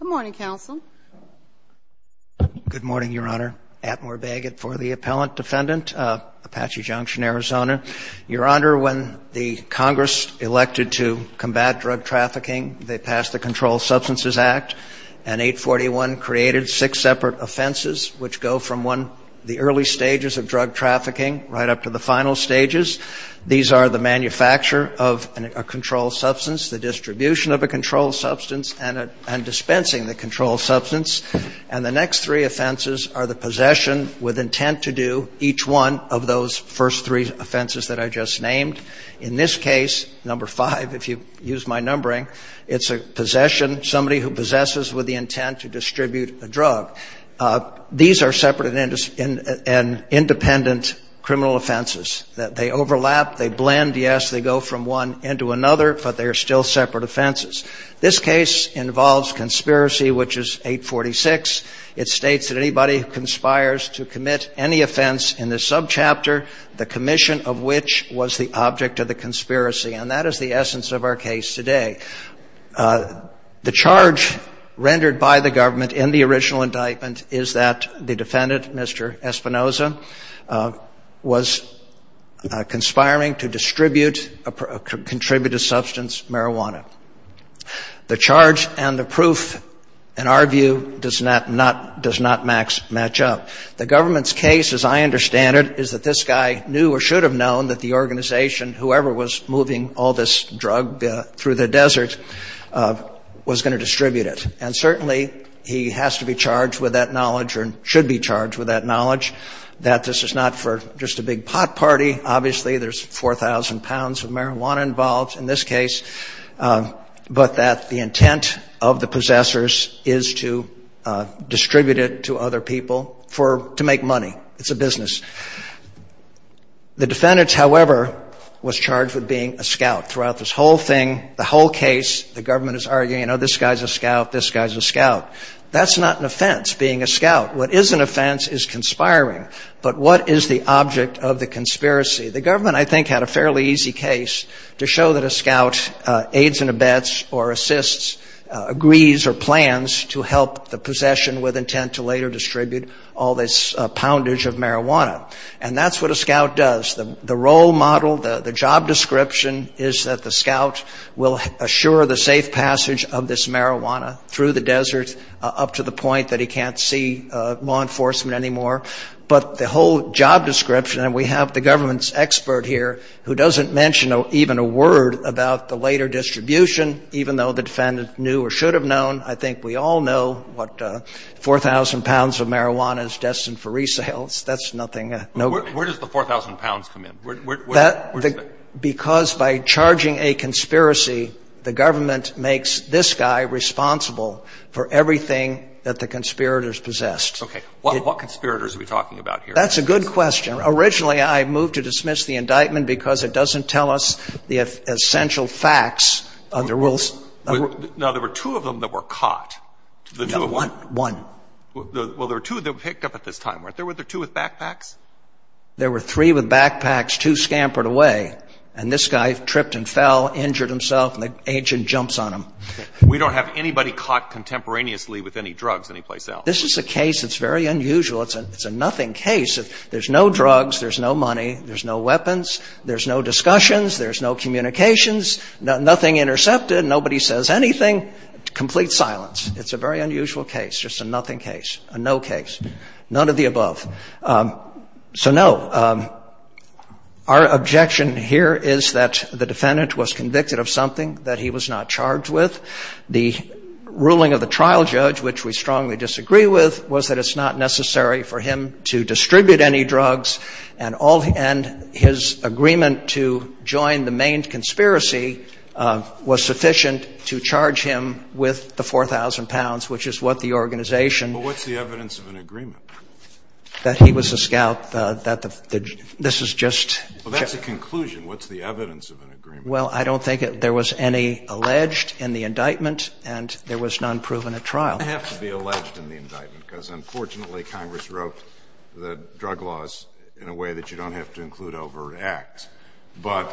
Good morning, counsel. Good morning, Your Honor. Atmore Bagot for the appellant defendant, Apache Junction, Arizona. Your Honor, when the Congress elected to combat drug trafficking, they passed the Controlled Substances Act, and 841 created six separate offenses which go from the early stages of drug trafficking right up to the final stages. These are the manufacture of a controlled substance, the distribution of a controlled substance, and dispensing the controlled substance. And the next three offenses are the possession with intent to do each one of those first three offenses that I just named. In this case, number five, if you use my numbering, it's a possession, somebody who possesses with the intent to distribute a drug. These are separate and independent criminal offenses. They overlap, they blend. Yes, they go from one end to another, but they are still separate offenses. This case involves conspiracy, which is 846. It states that anybody who conspires to commit any offense in this subchapter, the commission of which was the object of the conspiracy. And that is the essence of our case today. The charge rendered by the government in the original indictment is that the defendant, Mr. Espinoza, was conspiring to distribute a contributed substance, marijuana. The charge and the proof, in our view, does not match up. The government's case, as I understand it, is that this guy knew or should have known that the organization, whoever was moving all this drug through the desert, was going to distribute it. And certainly, he has to be charged with that knowledge or should be charged with that knowledge, that this is not for just a big pot party. Obviously, there's 4,000 pounds of marijuana involved in this case, but that the intent of the possessors is to distribute it to other people to make money. It's a business. The defendant, however, was charged with being a scout throughout this whole thing, the whole case. The government is arguing, you know, this guy's a scout, this guy's a scout. That's not an offense, being a scout. What is an offense is conspiring. But what is the object of the conspiracy? The government, I think, had a fairly easy case to show that a scout aids and abets or assists, agrees or plans to help the possession with intent to later distribute all this poundage of marijuana. And that's what a scout does. The role model, the job description is that the scout will assure the safe passage of this marijuana through the desert up to the point that he can't see law enforcement anymore. But the whole job description, and we have the government's expert here who doesn't mention even a word about the later distribution, even though the defendant knew or should have known. I think we all know what 4,000 pounds of marijuana is destined for resale. That's nothing. Where does the 4,000 pounds come in? Because by charging a conspiracy, the government makes this guy responsible for everything that the conspirators possessed. Okay. What conspirators are we talking about here? That's a good question. Originally, I moved to dismiss the indictment because it doesn't tell us the essential facts of the rules. Now, there were two of them that were caught. No, one. One. Well, there were two that were picked up at this time, weren't there? Were there two with backpacks? There were three with backpacks, two scampered away. And this guy tripped and fell, injured himself, and the agent jumps on him. We don't have anybody caught contemporaneously with any drugs anyplace else. This is a case that's very unusual. It's a nothing case. There's no drugs. There's no money. There's no weapons. There's no discussions. There's no communications. Nothing intercepted. Nobody says anything. Complete silence. It's a very unusual case, just a nothing case, a no case, none of the above. So, no, our objection here is that the defendant was convicted of something that he was not charged with. The ruling of the trial judge, which we strongly disagree with, was that it's not necessary for him to distribute any drugs. And his agreement to join the main conspiracy was sufficient to charge him with the 4,000 pounds, which is what the organization ---- Well, what's the evidence of an agreement? That he was a scout, that the ---- this is just ---- Well, that's a conclusion. What's the evidence of an agreement? Well, I don't think there was any alleged in the indictment and there was none proven at trial. It doesn't have to be alleged in the indictment because, unfortunately, Congress wrote the drug laws in a way that you don't have to include over an act. But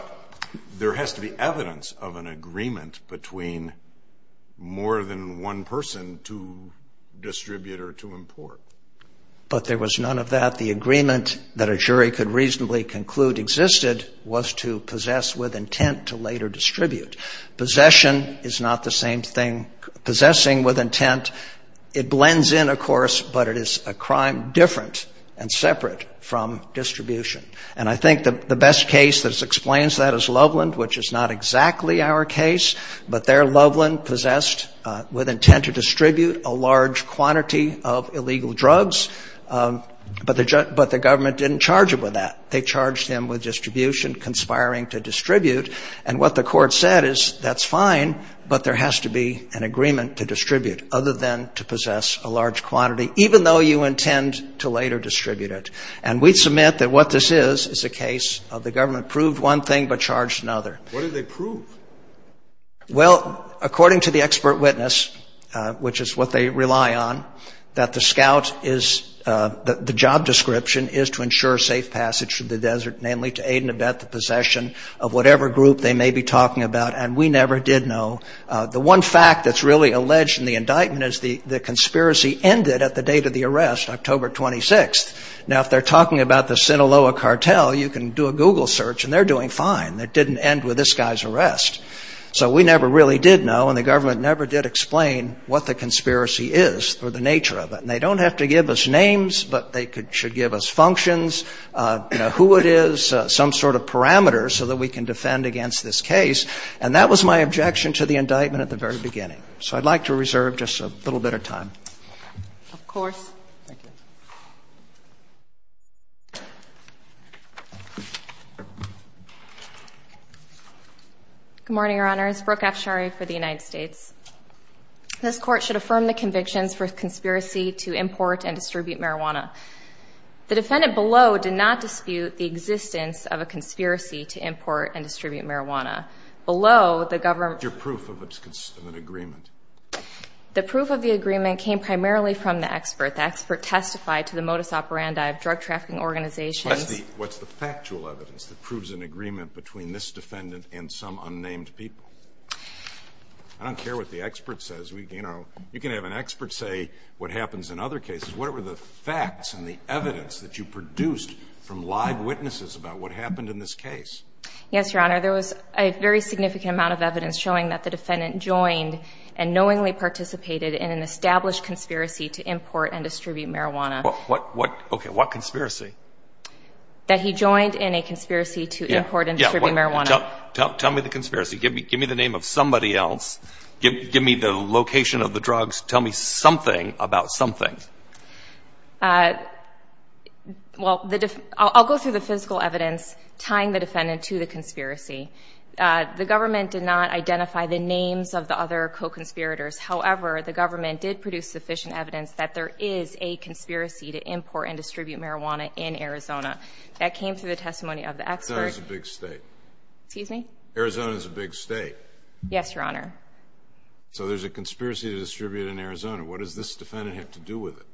there has to be evidence of an agreement between more than one person to distribute or to import. But there was none of that. that a jury could reasonably conclude existed was to possess with intent to later distribute. Possession is not the same thing. Possessing with intent, it blends in, of course, but it is a crime different and separate from distribution. And I think the best case that explains that is Loveland, which is not exactly our case, but there Loveland possessed with intent to distribute a large quantity of illegal drugs. But the government didn't charge him with that. They charged him with distribution, conspiring to distribute. And what the court said is that's fine, but there has to be an agreement to distribute other than to possess a large quantity, even though you intend to later distribute it. And we submit that what this is is a case of the government proved one thing but charged another. What did they prove? Well, according to the expert witness, which is what they rely on, that the job description is to ensure safe passage through the desert, namely to aid and abet the possession of whatever group they may be talking about. And we never did know. The one fact that's really alleged in the indictment is the conspiracy ended at the date of the arrest, October 26th. Now, if they're talking about the Sinaloa cartel, you can do a Google search, and they're doing fine. It didn't end with this guy's arrest. So we never really did know, and the government never did explain what the conspiracy is or the nature of it. And they don't have to give us names, but they should give us functions, you know, who it is, some sort of parameters so that we can defend against this case. And that was my objection to the indictment at the very beginning. So I'd like to reserve just a little bit of time. Of course. Thank you. Good morning, Your Honors. Brooke Afshari for the United States. This Court should affirm the convictions for conspiracy to import and distribute marijuana. The defendant below did not dispute the existence of a conspiracy to import and distribute marijuana. Below, the government. What's your proof of an agreement? The proof of the agreement came primarily from the expert. The expert testified to the modus operandi of drug trafficking organizations. What's the factual evidence that proves an agreement between this defendant and some unnamed people? I don't care what the expert says. You know, you can have an expert say what happens in other cases. What were the facts and the evidence that you produced from live witnesses about what happened in this case? Yes, Your Honor. There was a very significant amount of evidence showing that the defendant joined and knowingly participated in an established conspiracy to import and distribute marijuana. What conspiracy? That he joined in a conspiracy to import and distribute marijuana. Tell me the conspiracy. Give me the name of somebody else. Give me the location of the drugs. Tell me something about something. The government did not identify the names of the other co-conspirators. However, the government did produce sufficient evidence that there is a conspiracy to import and distribute marijuana in Arizona. That came through the testimony of the expert. Arizona's a big state. Excuse me? Arizona's a big state. Yes, Your Honor. So there's a conspiracy to distribute in Arizona. What does this defendant have to do with it?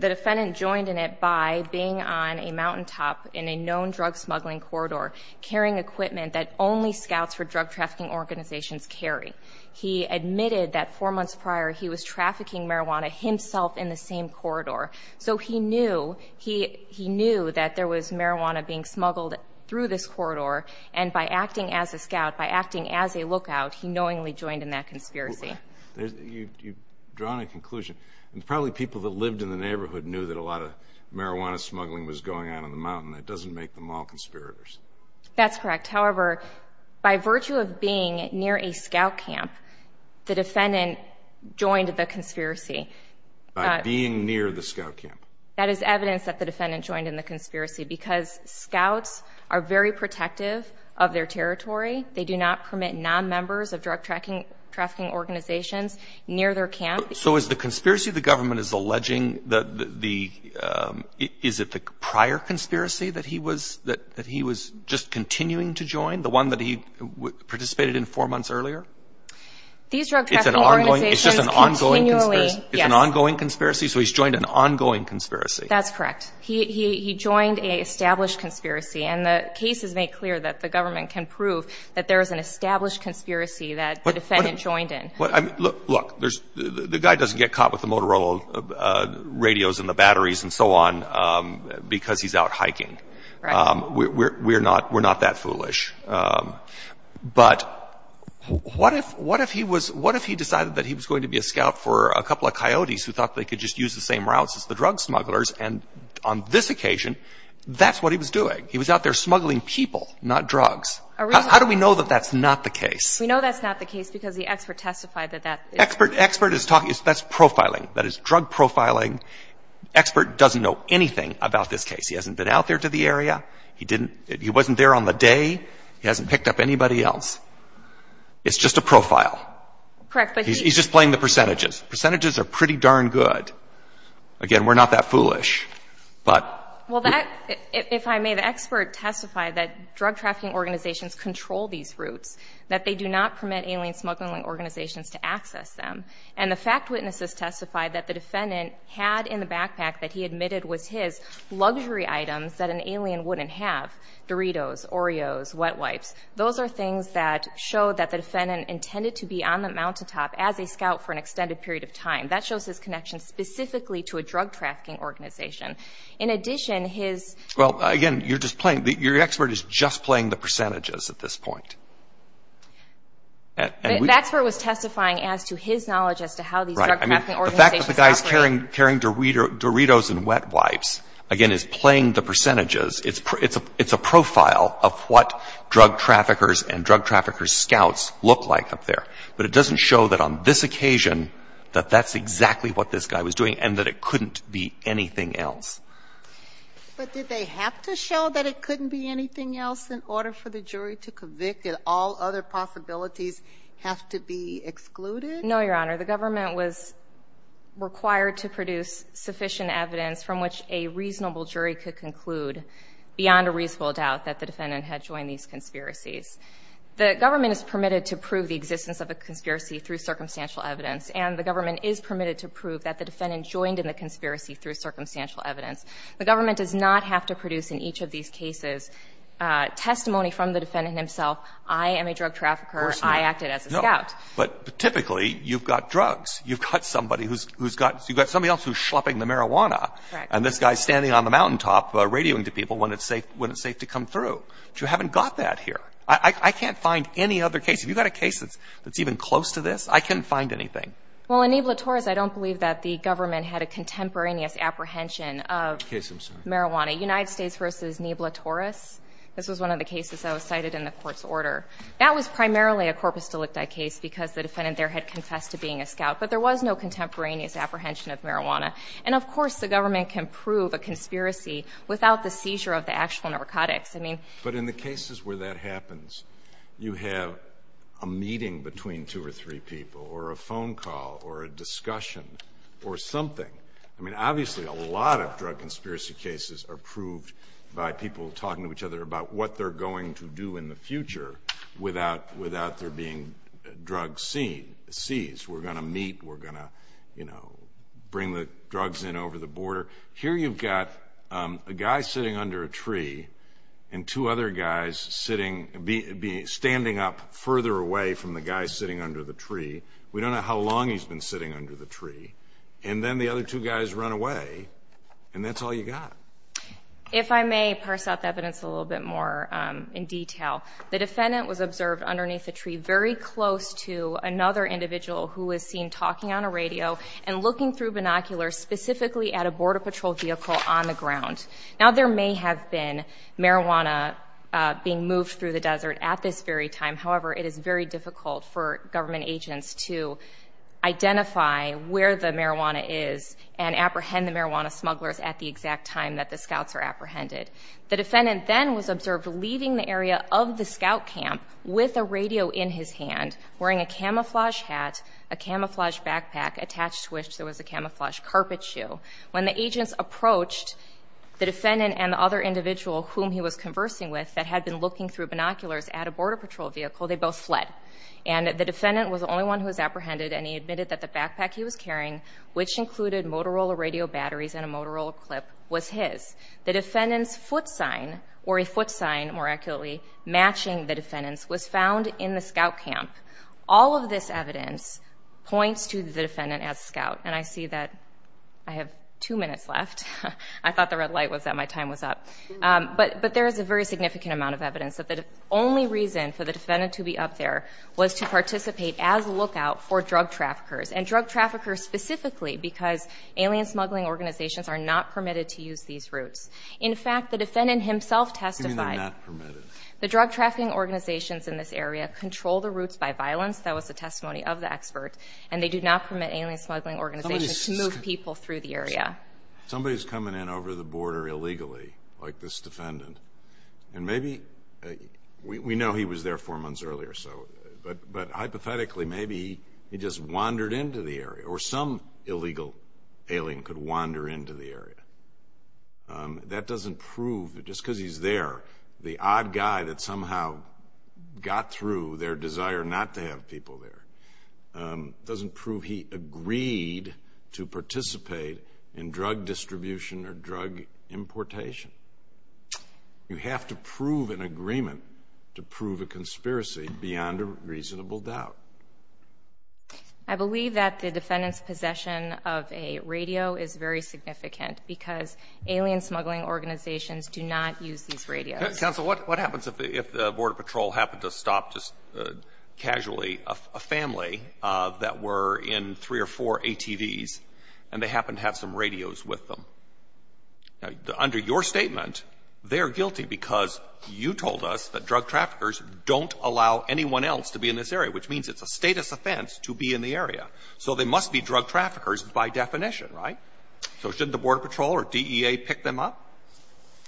The defendant joined in it by being on a mountaintop in a known drug smuggling corridor, carrying equipment that only scouts for drug trafficking organizations carry. He admitted that four months prior he was trafficking marijuana himself in the same corridor. So he knew that there was marijuana being smuggled through this corridor, and by acting as a scout, by acting as a lookout, he knowingly joined in that conspiracy. You've drawn a conclusion. Probably people that lived in the neighborhood knew that a lot of marijuana smuggling was going on on the mountain. That doesn't make them all conspirators. That's correct. However, by virtue of being near a scout camp, the defendant joined the conspiracy. By being near the scout camp. That is evidence that the defendant joined in the conspiracy because scouts are very protective of their territory. They do not permit nonmembers of drug trafficking organizations near their camp. So is the conspiracy the government is alleging, is it the prior conspiracy that he was just continuing to join, the one that he participated in four months earlier? These drug trafficking organizations continually, yes. It's an ongoing conspiracy? So he's joined an ongoing conspiracy. That's correct. He joined an established conspiracy, and the case has made clear that the government can prove that there is an established conspiracy that the defendant joined in. Look, the guy doesn't get caught with the Motorola radios and the batteries and so on because he's out hiking. We're not that foolish. But what if he decided that he was going to be a scout for a couple of coyotes who thought they could just use the same routes as the drug smugglers, and on this occasion, that's what he was doing. He was out there smuggling people, not drugs. How do we know that that's not the case? We know that's not the case because the expert testified that that is. Expert is talking. That's profiling. That is drug profiling. Expert doesn't know anything about this case. He hasn't been out there to the area. He wasn't there on the day. He hasn't picked up anybody else. It's just a profile. Correct. He's just playing the percentages. Percentages are pretty darn good. Again, we're not that foolish, but. Well, if I may, the expert testified that drug trafficking organizations control these routes, that they do not permit alien smuggling organizations to access them, and the fact witnesses testified that the defendant had in the backpack that he admitted was his luxury items that an alien wouldn't have, Doritos, Oreos, wet wipes. Those are things that show that the defendant intended to be on the mountaintop as a scout for an extended period of time. That shows his connection specifically to a drug trafficking organization. In addition, his. Well, again, you're just playing. Your expert is just playing the percentages at this point. The expert was testifying as to his knowledge as to how these drug trafficking organizations operate. Right. I mean, the fact that the guy's carrying Doritos and wet wipes, again, is playing the percentages. It's a profile of what drug traffickers and drug traffickers' scouts look like up there. But it doesn't show that on this occasion that that's exactly what this guy was doing and that it couldn't be anything else. But did they have to show that it couldn't be anything else in order for the jury to convict and all other possibilities have to be excluded? No, Your Honor. The government was required to produce sufficient evidence from which a reasonable jury could conclude beyond a reasonable doubt that the defendant had joined these conspiracies. The government is permitted to prove the existence of a conspiracy through circumstantial evidence, and the government is permitted to prove that the defendant joined in the The government does not have to produce in each of these cases testimony from the defendant himself. I am a drug trafficker. Of course not. I acted as a scout. No. But typically, you've got drugs. You've got somebody who's got somebody else who's schlepping the marijuana. Correct. And this guy's standing on the mountaintop radioing to people when it's safe to come through. But you haven't got that here. I can't find any other case. If you've got a case that's even close to this, I couldn't find anything. Well, in Nebla Torres, I don't believe that the government had a contemporaneous apprehension of marijuana. Case, I'm sorry. United States v. Nebla Torres. This was one of the cases that was cited in the court's order. That was primarily a corpus delicti case because the defendant there had confessed to being a scout. But there was no contemporaneous apprehension of marijuana. And, of course, the government can prove a conspiracy without the seizure of the actual narcotics. But in the cases where that happens, you have a meeting between two or three people or a phone call or a discussion or something. I mean, obviously, a lot of drug conspiracy cases are proved by people talking to each other about what they're going to do in the future without there being drugs seized. We're going to meet. We're going to bring the drugs in over the border. Here you've got a guy sitting under a tree and two other guys standing up further away from the guy sitting under the tree. We don't know how long he's been sitting under the tree. And then the other two guys run away, and that's all you got. If I may parse out the evidence a little bit more in detail, the defendant was observed underneath a tree very close to another individual who was seen talking on a radio and looking through binoculars specifically at a Border Patrol vehicle on the ground. Now, there may have been marijuana being moved through the desert at this very time. However, it is very difficult for government agents to identify where the marijuana is and apprehend the marijuana smugglers at the exact time that the scouts are apprehended. The defendant then was observed leaving the area of the scout camp with a radio in his hand, wearing a camouflage hat, a camouflage backpack attached to which there was a camouflage carpet shoe. When the agents approached the defendant and the other individual whom he was conversing with that had been looking through binoculars at a Border Patrol vehicle, they both fled. And the defendant was the only one who was apprehended, and he admitted that the backpack he was carrying, which included Motorola radio batteries and a Motorola clip, was his. The defendant's foot sign, or a foot sign more accurately, matching the defendant's, was found in the scout camp. All of this evidence points to the defendant as a scout. And I see that I have two minutes left. I thought the red light was that my time was up. But there is a very significant amount of evidence that the only reason for the defendant to be up there was to participate as a lookout for drug traffickers, and drug traffickers specifically because alien smuggling organizations are not permitted to use these routes. In fact, the defendant himself testified. You mean they're not permitted? The drug trafficking organizations in this area control the routes by violence. That was the testimony of the expert. And they do not permit alien smuggling organizations to move people through the area. Somebody's coming in over the border illegally, like this defendant. And maybe we know he was there four months earlier or so, but hypothetically, maybe he just wandered into the area, or some illegal alien could wander into the area. That doesn't prove, just because he's there, the odd guy that somehow got through their desire not to have people there, doesn't prove he agreed to participate in drug distribution or drug importation. You have to prove an agreement to prove a conspiracy beyond a reasonable doubt. I believe that the defendant's possession of a radio is very significant because alien smuggling organizations do not use these radios. Counsel, what happens if the Border Patrol happened to stop just casually a family that were in three or four ATVs, and they happened to have some radios with them? Under your statement, they're guilty because you told us that drug traffickers don't allow anyone else to be in this area, which means it's a status offense to be in the area. So they must be drug traffickers by definition, right? So shouldn't the Border Patrol or DEA pick them up?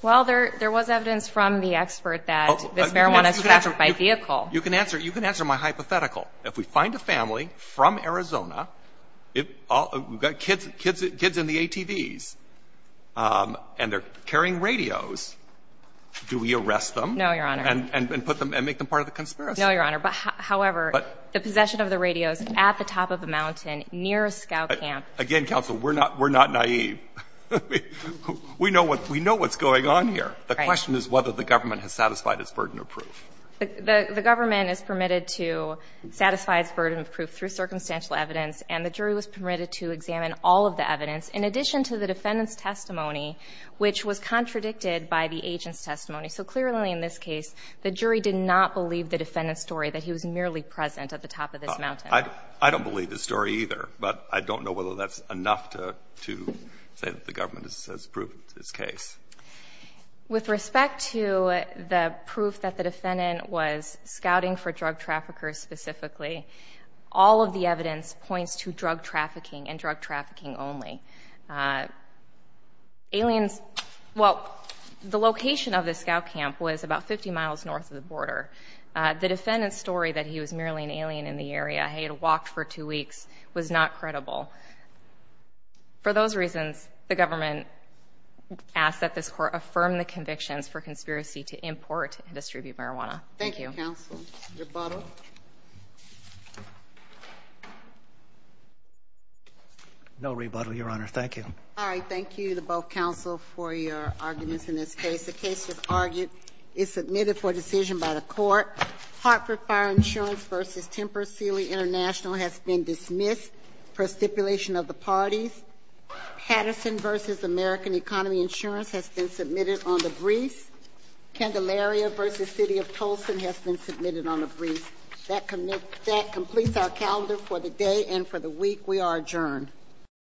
Well, there was evidence from the expert that this marijuana is trafficked by vehicle. You can answer my hypothetical. If we find a family from Arizona, kids in the ATVs, and they're carrying radios, do we arrest them? No, Your Honor. And make them part of the conspiracy? No, Your Honor. However, the possession of the radios at the top of a mountain near a scout camp. Again, counsel, we're not naive. We know what's going on here. The question is whether the government has satisfied its burden of proof. The government is permitted to satisfy its burden of proof through circumstantial evidence, and the jury was permitted to examine all of the evidence in addition to the defendant's testimony, which was contradicted by the agent's testimony. So clearly in this case, the jury did not believe the defendant's story that he was merely present at the top of this mountain. I don't believe the story either, but I don't know whether that's enough to say that the government has proven its case. With respect to the proof that the defendant was scouting for drug traffickers specifically, all of the evidence points to drug trafficking and drug trafficking only. Aliens, well, the location of the scout camp was about 50 miles north of the border. The defendant's story that he was merely an alien in the area, he had walked for two weeks, was not credible. For those reasons, the government asks that this court affirm the convictions for conspiracy to import and distribute marijuana. Thank you. Thank you, counsel. Rebuttal? No rebuttal, Your Honor. Thank you. All right. Thank you to both counsel for your arguments in this case. The case, as argued, is submitted for decision by the court. Hartford Fire Insurance v. Timber Sealy International has been dismissed for stipulation of the parties. Patterson v. American Economy Insurance has been submitted on the briefs. Candelaria v. City of Tolson has been submitted on the briefs. That completes our calendar for the day and for the week. We are adjourned.